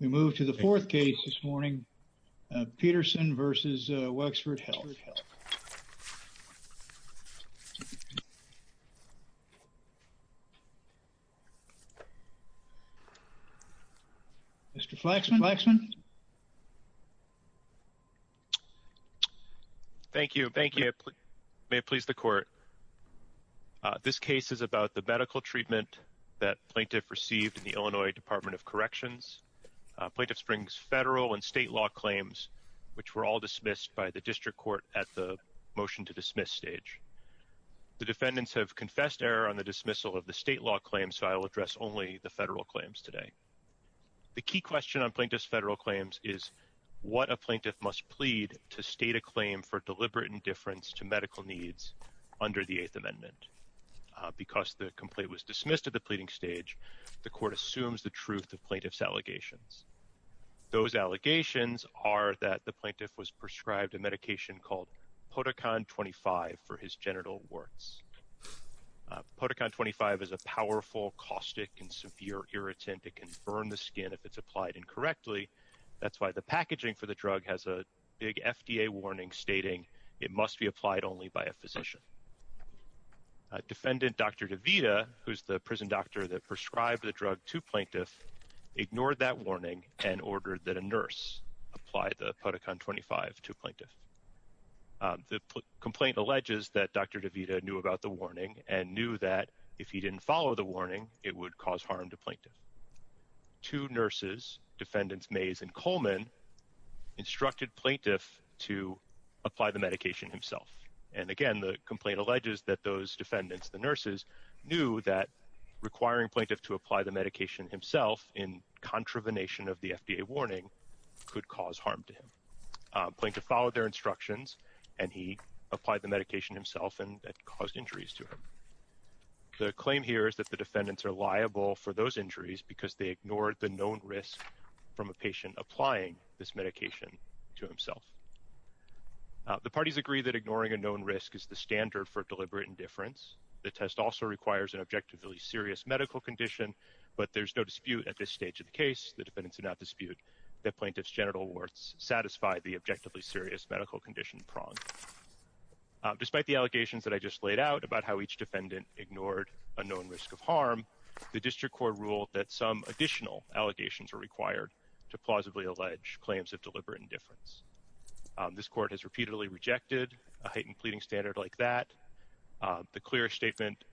We move to the fourth case this morning, Peterson v. Wexford Health. Mr. Flaxman. Thank you. May it please the court. This case is about the medical treatment that plaintiff received in the Illinois Department of Corrections. Plaintiff springs federal and state law claims, which were all dismissed by the district court at the motion to dismiss stage. The defendants have confessed error on the dismissal of the state law claims, so I will address only the federal claims today. The key question on plaintiff's federal claims is what a plaintiff must plead to state a claim for deliberate indifference to medical needs under the Eighth Amendment. Because the complaint was dismissed at the pleading stage, the court assumes the truth of plaintiff's allegations. Those allegations are that the plaintiff was prescribed a medication called Poticon 25 for his genital warts. Poticon 25 is a powerful, caustic, and severe irritant. It can burn the skin if it's applied incorrectly. That's why the packaging for the drug has a big effect. Defendant Dr. DeVita, who's the prison doctor that prescribed the drug to plaintiff, ignored that warning and ordered that a nurse apply the Poticon 25 to plaintiff. The complaint alleges that Dr. DeVita knew about the warning and knew that if he didn't follow the warning, it would cause harm to plaintiff. Two nurses, defendants Mays and Coleman, instructed plaintiff to apply the medication himself. And again, the complaint alleges that those defendants, the nurses, knew that requiring plaintiff to apply the medication himself in contravenation of the FDA warning could cause harm to him. Plaintiff followed their instructions and he applied the medication himself and that caused injuries to him. The claim here is that the defendants are liable for those injuries because they ignored the known risk from a patient applying this medication to himself. The parties agree that ignoring a known risk is the standard for deliberate indifference. The test also requires an objectively serious medical condition, but there's no dispute at this stage of the case, the defendants do not dispute that plaintiff's genital warts satisfy the objectively serious medical condition prong. Despite the allegations that I just laid out about how each defendant ignored a known risk of harm, the district court ruled that some additional allegations are required to plausibly allege claims of deliberate indifference. This court has repeatedly rejected a heightened pleading standard like that. The clearest statement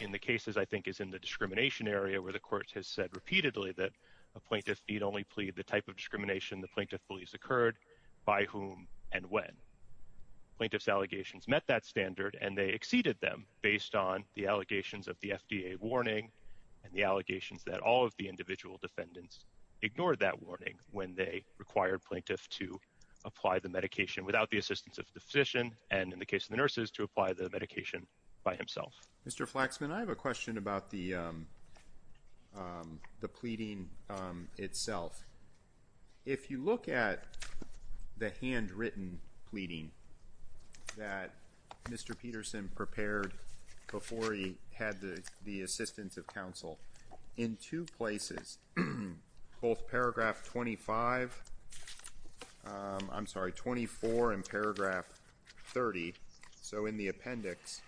in the cases I think is in the discrimination area where the court has said repeatedly that a plaintiff need only plead the type of discrimination the plaintiff believes occurred by whom and when. Plaintiff's allegations met that standard and they exceeded them based on the allegations of the FDA warning and the allegations that all of the individual defendants ignored that warning when they required plaintiff to apply the medication without the assistance of the physician and in the case of the nurses to apply the medication by himself. Mr. Flaxman, I have a question about the pleading itself. If you look at the handwritten pleading that Mr. Peterson prepared before he had the assistance of counsel in two places, both paragraph 25, I'm sorry, 24 and paragraph 30, so in the appendix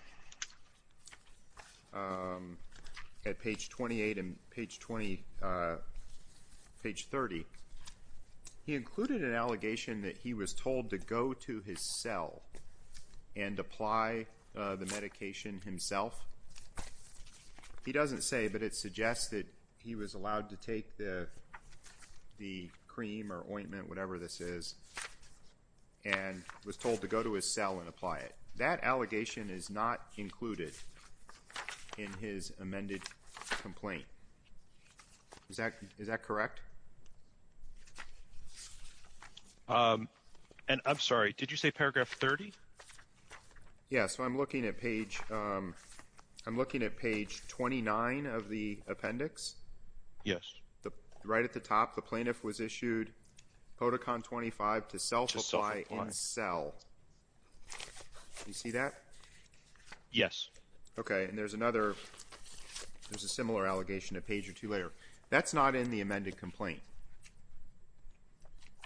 at page 28 and page 30, he included an allegation that he was told to go to his cell and apply the medication himself. He doesn't say, but it suggests that he was allowed to take the cream or ointment, whatever this is, and was told to go to his cell and apply it. That allegation is not included in his amended complaint. Is that correct? And I'm sorry, did you say paragraph 30? Yeah, so I'm looking at page 29 of the appendix. Yes. Right at the top, the plaintiff was issued POTICON 25 to self-apply in cell. You see that? Yes. Okay, and there's another, there's a similar allegation a page or two later. That's not in the amended complaint.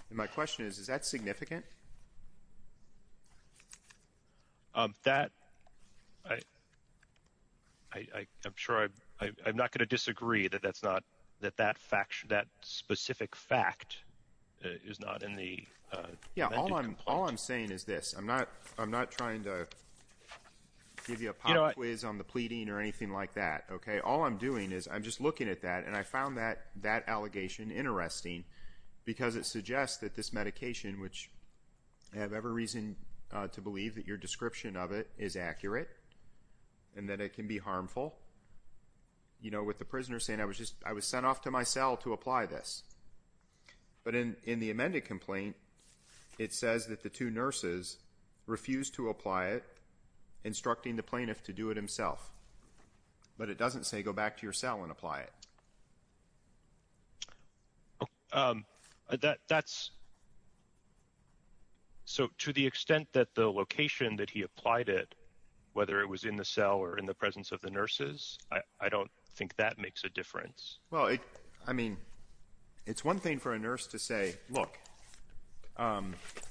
And my question is, is that significant? That, I'm sure, I'm not going to disagree that that's not, that that fact, that specific fact is not in the amended complaint. Yeah, all I'm, all I'm saying is this, I'm not, I'm not trying to give you a pop quiz on the pleading or anything like that, okay? All I'm doing is I'm just looking at that and I found that, that allegation interesting because it suggests that this medication, which I have every reason to believe that your description of it is accurate and that it can be harmful. You know, with the prisoner saying, I was just, I was sent off to my cell to apply this. But in the amended complaint, it says that the two nurses refused to apply it, instructing the plaintiff to do it himself. But it doesn't say go back to your cell and apply it. That, that's, so to the extent that the location that he applied it, whether it was in the cell or in the presence of the nurses, I don't think that makes a difference. Well, it, I mean, it's one thing for a nurse to say, look,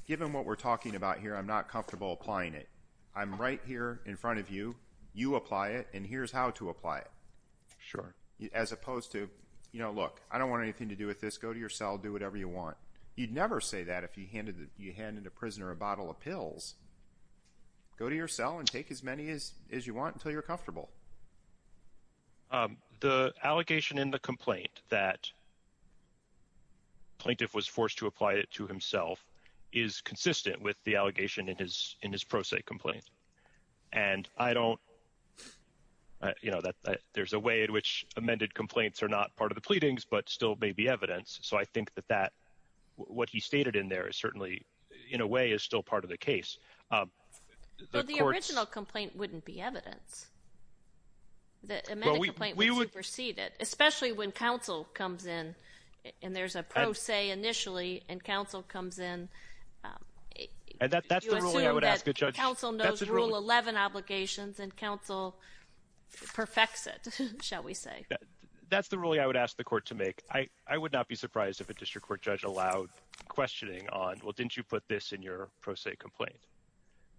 given what we're talking about here, I'm not comfortable applying it. I'm right here in front of you. You apply it and here's how to apply it. Sure. As opposed to, you know, look, I don't want anything to do with this. Go to your cell, do whatever you want. You'd never say that if you handed, you handed a prisoner a bottle of pills. Go to your cell and take as many as, as you want until you're comfortable. Um, the allegation in the complaint that plaintiff was forced to apply it to himself is consistent with the allegation in his, in his pro se complaint. And I don't, you know, that there's a way in which amended complaints are not part of the pleadings, but still may be evidence. So I think that that, what he stated in there is certainly in a way is still part of the case. The original complaint wouldn't be evidence. The amended complaint would supersede it, especially when counsel comes in and there's a pro se initially and counsel comes in. And that, that's the ruling I would ask a judge. Counsel knows rule 11 obligations and counsel perfects it, shall we say. That's the ruling I would ask the court to make. I, I would not be surprised if a district court judge allowed questioning on, well, didn't you put this in your pro se complaint?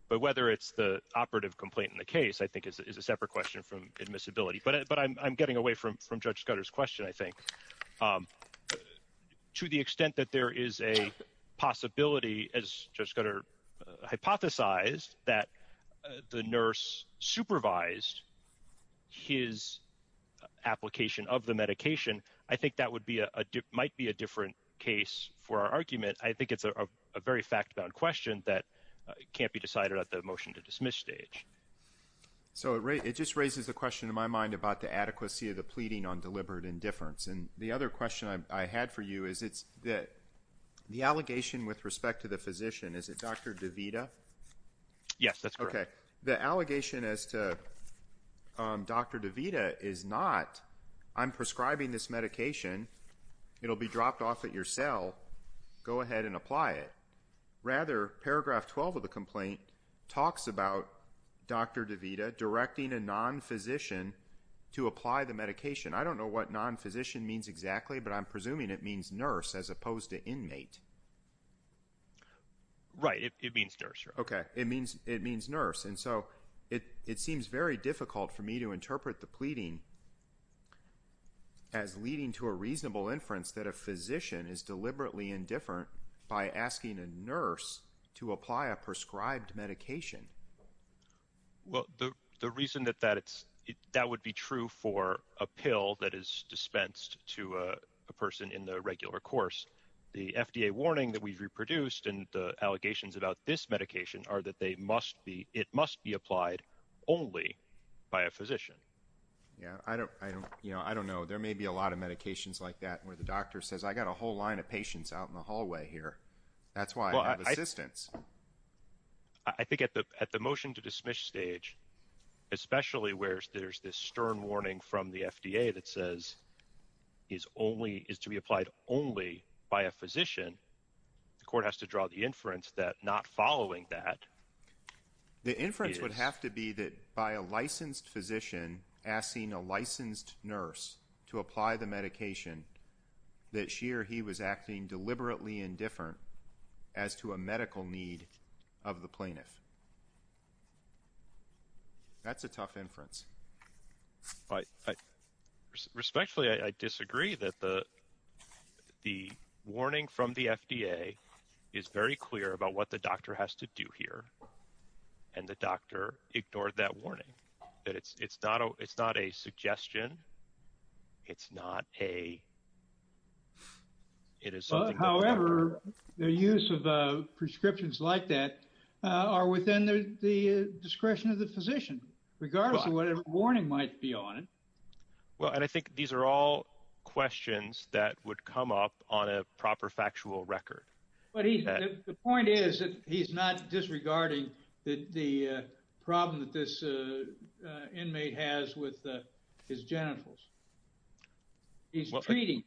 But whether it's the operative complaint in the case, I think is a separate question from admissibility. But, but I'm, I'm getting away from, from Judge Scudder's question, I think. To the extent that there is a possibility as Judge Scudder hypothesized that the nurse supervised his application of the medication, I think that would be a, might be a different case for our argument. I think it's a very fact-bound question that can't be decided at the motion to dismiss stage. So it just raises a question in my mind about the adequacy of the pleading on deliberate indifference. And the other question I had for you is it's that, the allegation with respect to the physician, is it Dr. DeVita? Yes, that's correct. Okay. The allegation as to Dr. DeVita is not, I'm prescribing this medication. It'll be dropped off at your cell. Go ahead and apply it. Rather, paragraph 12 of the complaint talks about Dr. DeVita directing a non-physician to apply the medication. I don't know what non-physician means exactly, but I'm presuming it means nurse as opposed to inmate. Right. It means nurse. Okay. It means, it means nurse. And so it, it seems very difficult for me to interpret the pleading as leading to a reasonable inference that a physician is deliberately indifferent by asking a nurse to apply a prescribed medication. Well, the, the reason that that it's, that would be true for a pill that is dispensed to a person in the regular course. The FDA warning that we've reproduced and the allegations about this medication are that they must be, it must be applied only by a physician. Yeah. I don't, I don't, you know, I don't know. There may be a lot of medications like that where the doctor says, I got a whole line of patients out in the hallway here. That's why I have assistance. I think at the, at the motion to dismiss stage, especially where there's this stern warning from the FDA that says is only, is to be applied only by a physician. The court has to draw the inference that not following that. The inference would have to be that by a licensed physician asking a licensed nurse to apply the medication that she or he was acting deliberately indifferent as to a medical need of the plaintiff. That's a tough inference. But respectfully, I disagree that the, the warning from the FDA is very clear about what the doctor has to do here. And the doctor ignored that warning that it's, it's not a, it's not a suggestion. It's not a, it is something. However, the use of prescriptions like that are within the discretion of the physician, regardless of whatever warning might be on it. Well, and I think these are all questions that would come up on a proper factual record. But he, the point is that he's not disregarding that the problem that this inmate has with his genitals. He's treating.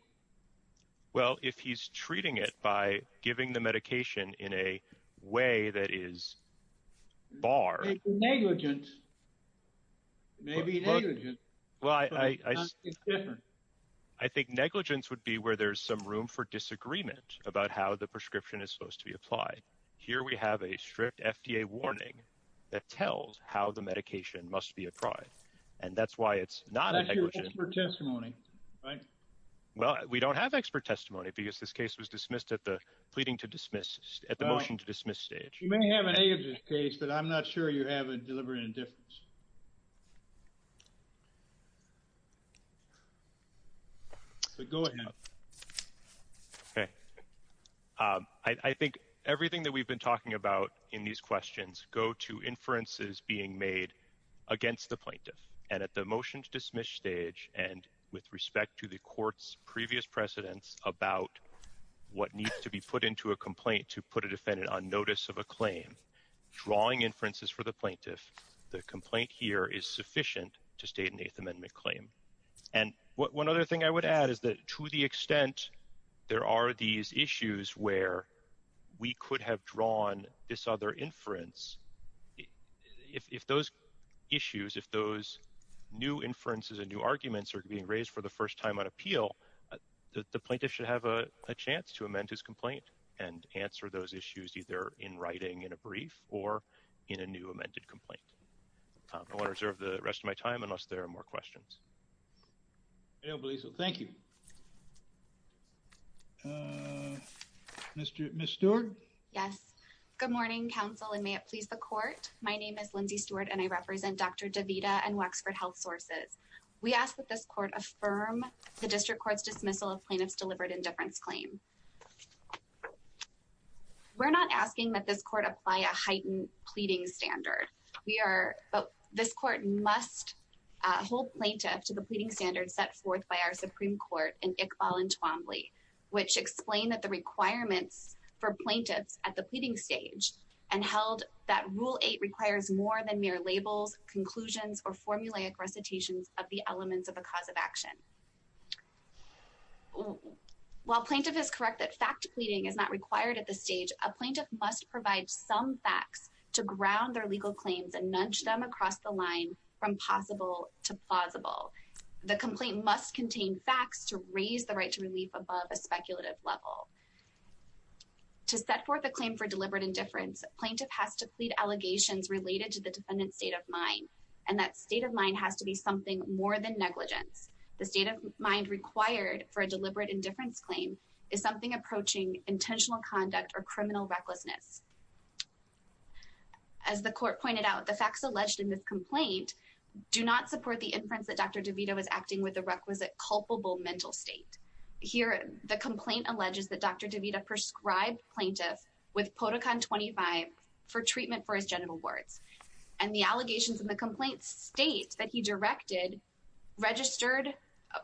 Well, if he's treating it by giving the medication in a way that is bar. Negligent, maybe negligent. Well, I, I, I think negligence would be where there's some room for disagreement about how the prescription is supposed to be applied. Here, we have a strict FDA warning that tells how the medication must be applied. And that's why it's not negligent. That's your expert testimony, right? Well, we don't have expert testimony because this case was dismissed at the pleading to dismiss at the motion to dismiss stage. You may have an A of this case, but I'm not sure you have a deliberate indifference. So go ahead. Okay. I think everything that we've been talking about in these questions go to inferences being made against the plaintiff and at the motion to dismiss stage. And with respect to the court's previous precedents about what needs to be put into a complaint to put a defendant on notice of a claim drawing inferences for the plaintiff. The complaint here is sufficient to state an 8th amendment claim. And one other thing I would add is that to the extent there are these issues where we could have drawn this other inference, if those issues, if those new inferences and new arguments are being raised for the first time on appeal, the plaintiff should have a chance to amend his complaint and answer those issues either in writing in a brief or in a new amended complaint. I want to reserve the rest of my time unless there are more questions. I don't believe so. Thank you. Ms. Stewart? Yes. Good morning, counsel, and may it please the court. My name is Lindsay Stewart, and I represent Dr. DeVita and Waxford Health Sources. We ask that this court affirm the district court's dismissal of plaintiff's deliberate indifference claim. We're not asking that this court apply a heightened pleading standard. We are – this court must hold plaintiff to the pleading standards set forth by our Supreme Court in Iqbal and Twombly, which explain that the requirements for plaintiffs at the pleading stage and held that Rule 8 requires more than mere labels, conclusions, or formulaic recitations of the elements of a cause of action. While plaintiff is correct that fact pleading is not required at this stage, a plaintiff must provide some facts to ground their legal claims and nudge them across the line from possible to plausible. The complaint must contain facts to raise the right to relief above a speculative level. To set forth a claim for deliberate indifference, plaintiff has to plead allegations related to the defendant's state of mind, and that state of mind has to be something more than negligence. The state of mind required for a deliberate indifference claim is something approaching intentional conduct or criminal recklessness. As the court pointed out, the facts alleged in this complaint do not support the inference that Dr. DeVita was acting with a requisite culpable mental state. Here, the complaint alleges that Dr. DeVita prescribed plaintiff with Podocon-25 for treatment for his genital warts. And the allegations in the complaint state that he directed registered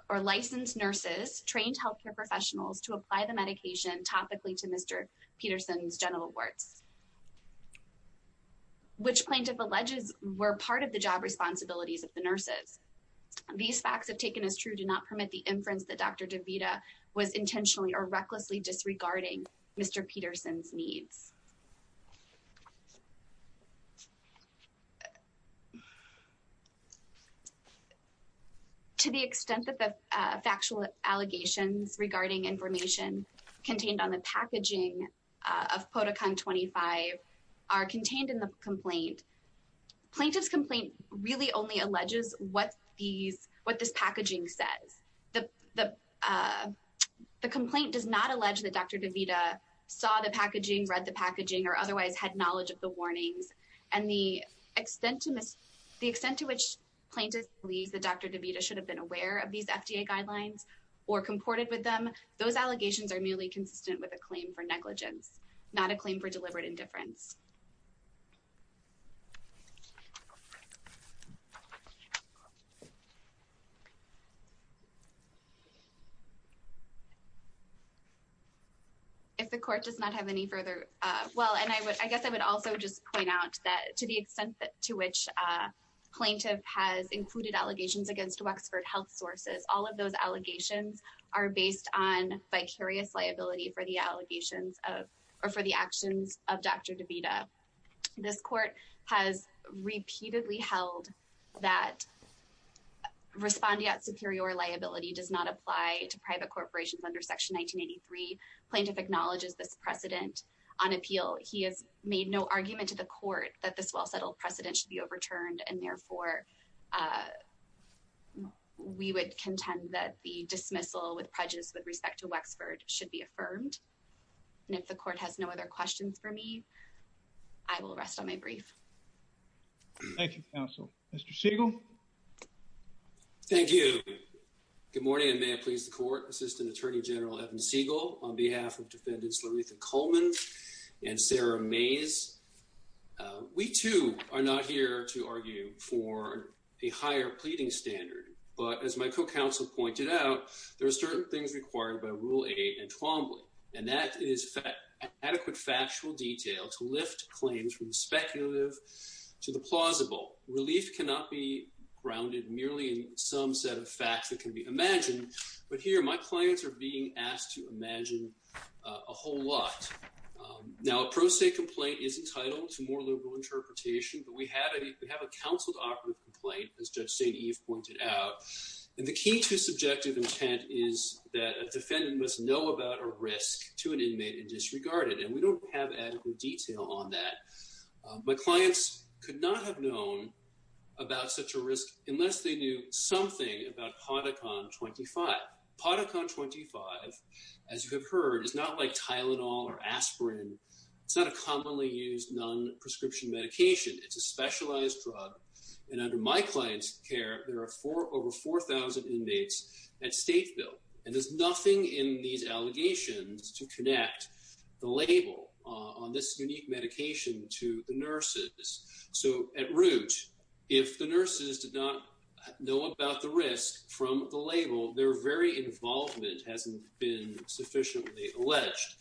or licensed nurses, trained healthcare professionals, to apply the medication topically to Mr. Peterson's genital warts, which plaintiff alleges were part of the job responsibilities of the nurses. These facts, if taken as true, do not permit the inference that Dr. DeVita was intentionally or recklessly disregarding Mr. Peterson's needs. To the extent that the factual allegations regarding information contained on the packaging of Podocon-25 are contained in the complaint, plaintiff's complaint really only alleges what these, what this packaging says. The complaint does not allege that Dr. DeVita saw the packaging, read the packaging, or otherwise had knowledge of the warnings. And the extent to which plaintiff believes that Dr. DeVita should have been aware of these FDA guidelines or comported with them, those allegations are merely consistent with a claim for negligence, not a claim for deliberate indifference. If the court does not have any further, well, and I guess I would also just point out that to the extent to which plaintiff has included allegations against Wexford Health Sources, all of those allegations are based on vicarious liability for the allegations of, or for the actions of Dr. DeVita. This court has repeatedly held that respondeat superior liability does not apply to private corporations under Section 1983. Plaintiff acknowledges this precedent on appeal. He has made no argument to the court that this well-settled precedent should be overturned and therefore we would contend that the dismissal with prejudice with respect to Wexford should be affirmed. And if the court has no other questions for me, I will rest on my brief. Thank you, counsel. Mr. Siegel. Thank you. Good morning, and may it please the court, Assistant Attorney General Evan Siegel, on behalf of Defendants Laritha Coleman and Sarah Mays. We too are not here to argue for a higher pleading standard, but as my co-counsel pointed out, there are certain things required by Rule 8 in Twombly. That is adequate factual detail to lift claims from the speculative to the plausible. Relief cannot be grounded merely in some set of facts that can be imagined, but here my claims are being asked to imagine a whole lot. Now, a pro se complaint is entitled to more liberal interpretation, but we have a counseled operative complaint, as Judge St. Eve pointed out, and the key to subjective intent is that to an inmate and disregard it, and we don't have adequate detail on that. My clients could not have known about such a risk unless they knew something about Podicon-25. Podicon-25, as you have heard, is not like Tylenol or aspirin. It's not a commonly used non-prescription medication. It's a specialized drug, and under my client's care, there are over 4,000 inmates at state bill, and there's nothing in these allegations to connect the label on this unique medication to the nurses. So at root, if the nurses did not know about the risk from the label, their very involvement hasn't been sufficiently alleged,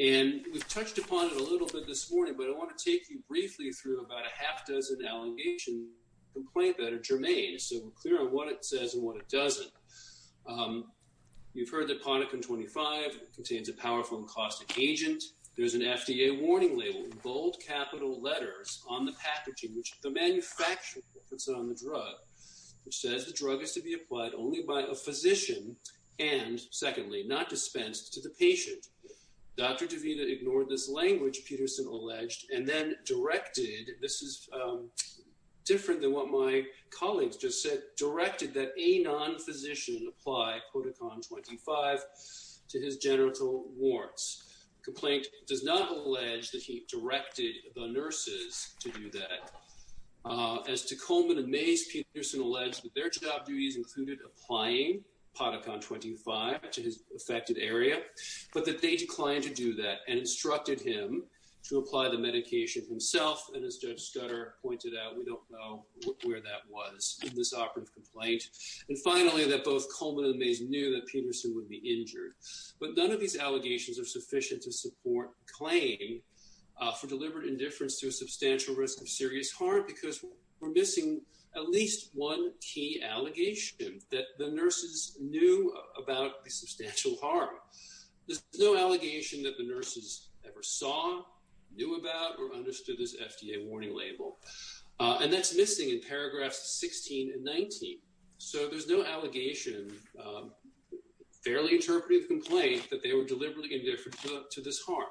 and we've touched upon it a little bit this morning, but I want to take you briefly through about a half dozen allegation complaint that are germane, so we're clear on what it says and what it doesn't. You've heard that Podicon-25 contains a powerful and caustic agent. There's an FDA warning label, bold capital letters on the packaging, which the manufacturer puts on the drug, which says the drug is to be applied only by a physician and, secondly, not dispensed to the patient. Dr. DeVita ignored this language, Peterson alleged, and then directed, this is different than what my colleagues just said, directed that a non-physician apply Podicon-25 to his genital warts. The complaint does not allege that he directed the nurses to do that. As to Coleman and Mays, Peterson alleged that their job duties included applying Podicon-25 to his affected area, but that they declined to do that and instructed him to apply the medication himself. And as Judge Scudder pointed out, we don't know where that was in this operative complaint. And finally, that both Coleman and Mays knew that Peterson would be injured. But none of these allegations are sufficient to support claim for deliberate indifference to a substantial risk of serious harm because we're missing at least one key allegation, that the nurses knew about a substantial harm. There's no allegation that the nurses ever saw, knew about, or understood this FDA warning label. And that's missing in paragraphs 16 and 19. So there's no allegation, fairly interpretive complaint, that they were deliberately indifferent to this harm.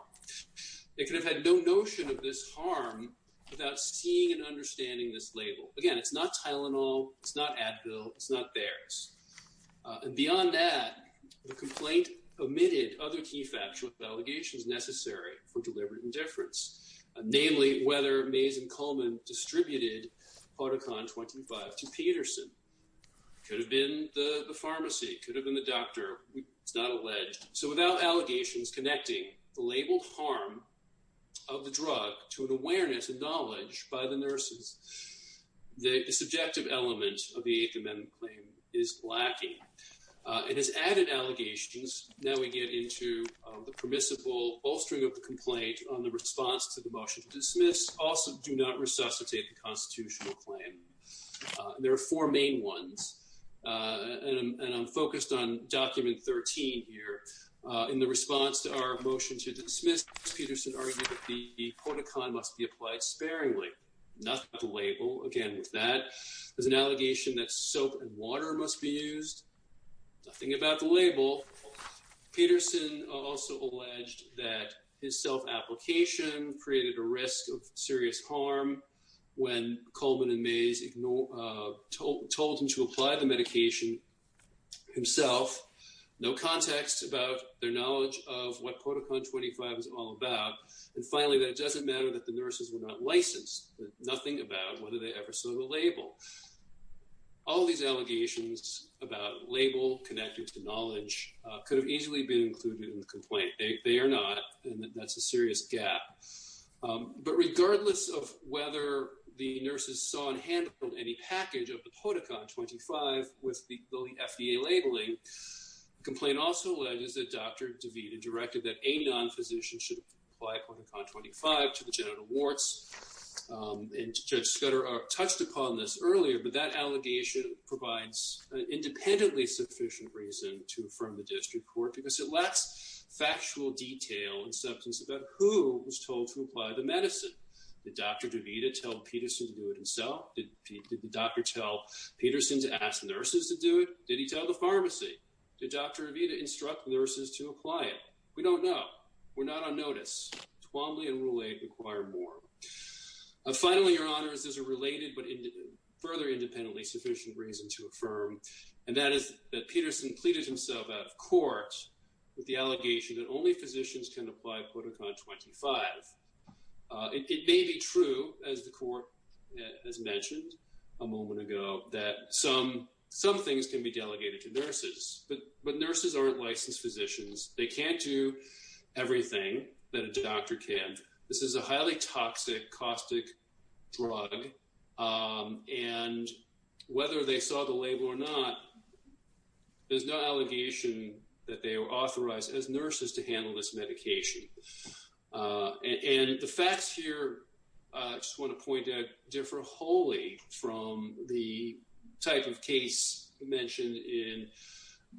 They could have had no notion of this harm without seeing and understanding this label. Again, it's not Tylenol, it's not Advil, it's not theirs. And beyond that, the complaint omitted other key factual allegations necessary for deliberate indifference. Namely, whether Mays and Coleman distributed Podicon-25 to Peterson. Could have been the pharmacy, could have been the doctor, it's not alleged. So without allegations connecting the labeled harm of the drug to an awareness and knowledge by the nurses, the subjective element of the Eighth Amendment claim is lacking. It has added allegations. Now we get into the permissible bolstering of the complaint on the response to the motion to dismiss. Also, do not resuscitate the constitutional claim. There are four main ones, and I'm focused on document 13 here. In the response to our motion to dismiss, Ms. Peterson argued that the Podicon must be applied sparingly. Nothing about the label. Again, with that, there's an allegation that soap and water must be used. Nothing about the label. Peterson also alleged that his self-application created a risk of serious harm when Coleman and Mays told him to apply the medication himself. No context about their knowledge of what Podicon-25 is all about. And finally, that it doesn't matter that the nurses were not licensed. Nothing about whether they ever saw the label. All these allegations about label connected to knowledge could have easily been included in the complaint. They are not, and that's a serious gap. But regardless of whether the nurses saw and handled any package of the Podicon-25 with the FDA labeling, the complaint also alleges that Dr. DeVita directed that a non-physician should apply Podicon-25 to the genital warts. And Judge Scudder touched upon this earlier, but that allegation provides an independently sufficient reason to affirm the district court because it lacks factual detail and substance about who was told to apply the medicine. Did Dr. DeVita tell Peterson to do it himself? Did the doctor tell Peterson to ask nurses to do it? Did he tell the pharmacy? Did Dr. DeVita instruct nurses to apply it? We don't know. We're not on notice. Twombly and Rule 8 require more. Finally, Your Honors, there's a related but further independently sufficient reason to affirm, and that is that Peterson pleaded himself out of court with the allegation that only physicians can apply Podicon-25. It may be true, as the court has mentioned a moment ago, that some things can be delegated to nurses, but nurses aren't licensed physicians. They can't do everything that a doctor can. This is a highly toxic, caustic drug. And whether they saw the label or not, there's no allegation that they were authorized as nurses to handle this medication. And the facts here, I just want to point out, differ wholly from the type of case mentioned in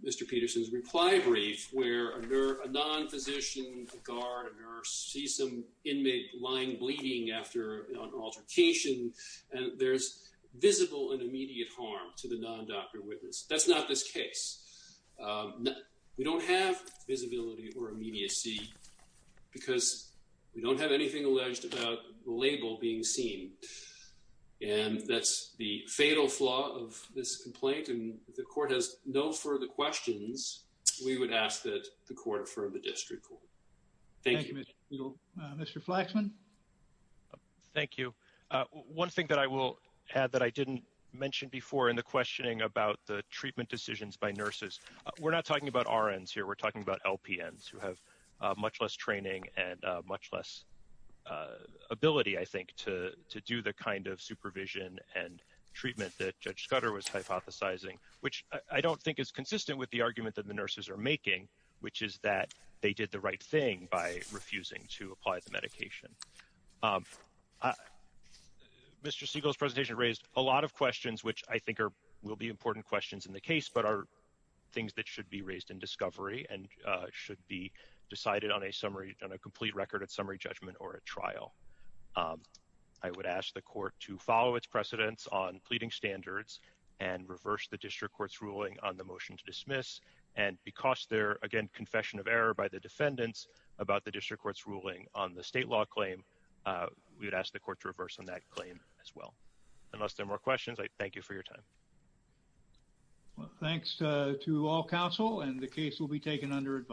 Mr. Peterson's reply brief where a non-physician, a guard, a nurse sees some inmate lying bleeding after an altercation, and there's visible and immediate harm to the non-doctor witness. That's not this case. We don't have visibility or immediacy because we don't have anything alleged about the label being seen. And that's the fatal flaw of this complaint, and if the court has no further questions, we would ask that the court affirm the district court. Thank you. Mr. Flaxman? Thank you. One thing that I will add that I didn't mention before in the questioning about the treatment decisions by nurses, we're not talking about RNs here. We're talking about LPNs who have much less training and much less ability, I think, to do the kind of supervision and treatment that Judge Scudder was hypothesizing, which I don't think is consistent with the argument that the nurses are making, which is that they did the right thing by refusing to apply the medication. Mr. Siegel's presentation raised a lot of questions, which I think will be important questions in the case, but are things that should be raised in discovery and should be decided on a summary, on a complete record at summary judgment or at trial. I would ask the court to follow its precedents on pleading standards and reverse the district court's ruling on the motion to dismiss, and because they're, again, confession of error by the defendants about the district court's ruling on the state law claim, we would ask the court to reverse on that claim as well. Unless there are more questions, I thank you for your time. Thanks to all counsel, and the case will be taken under advice.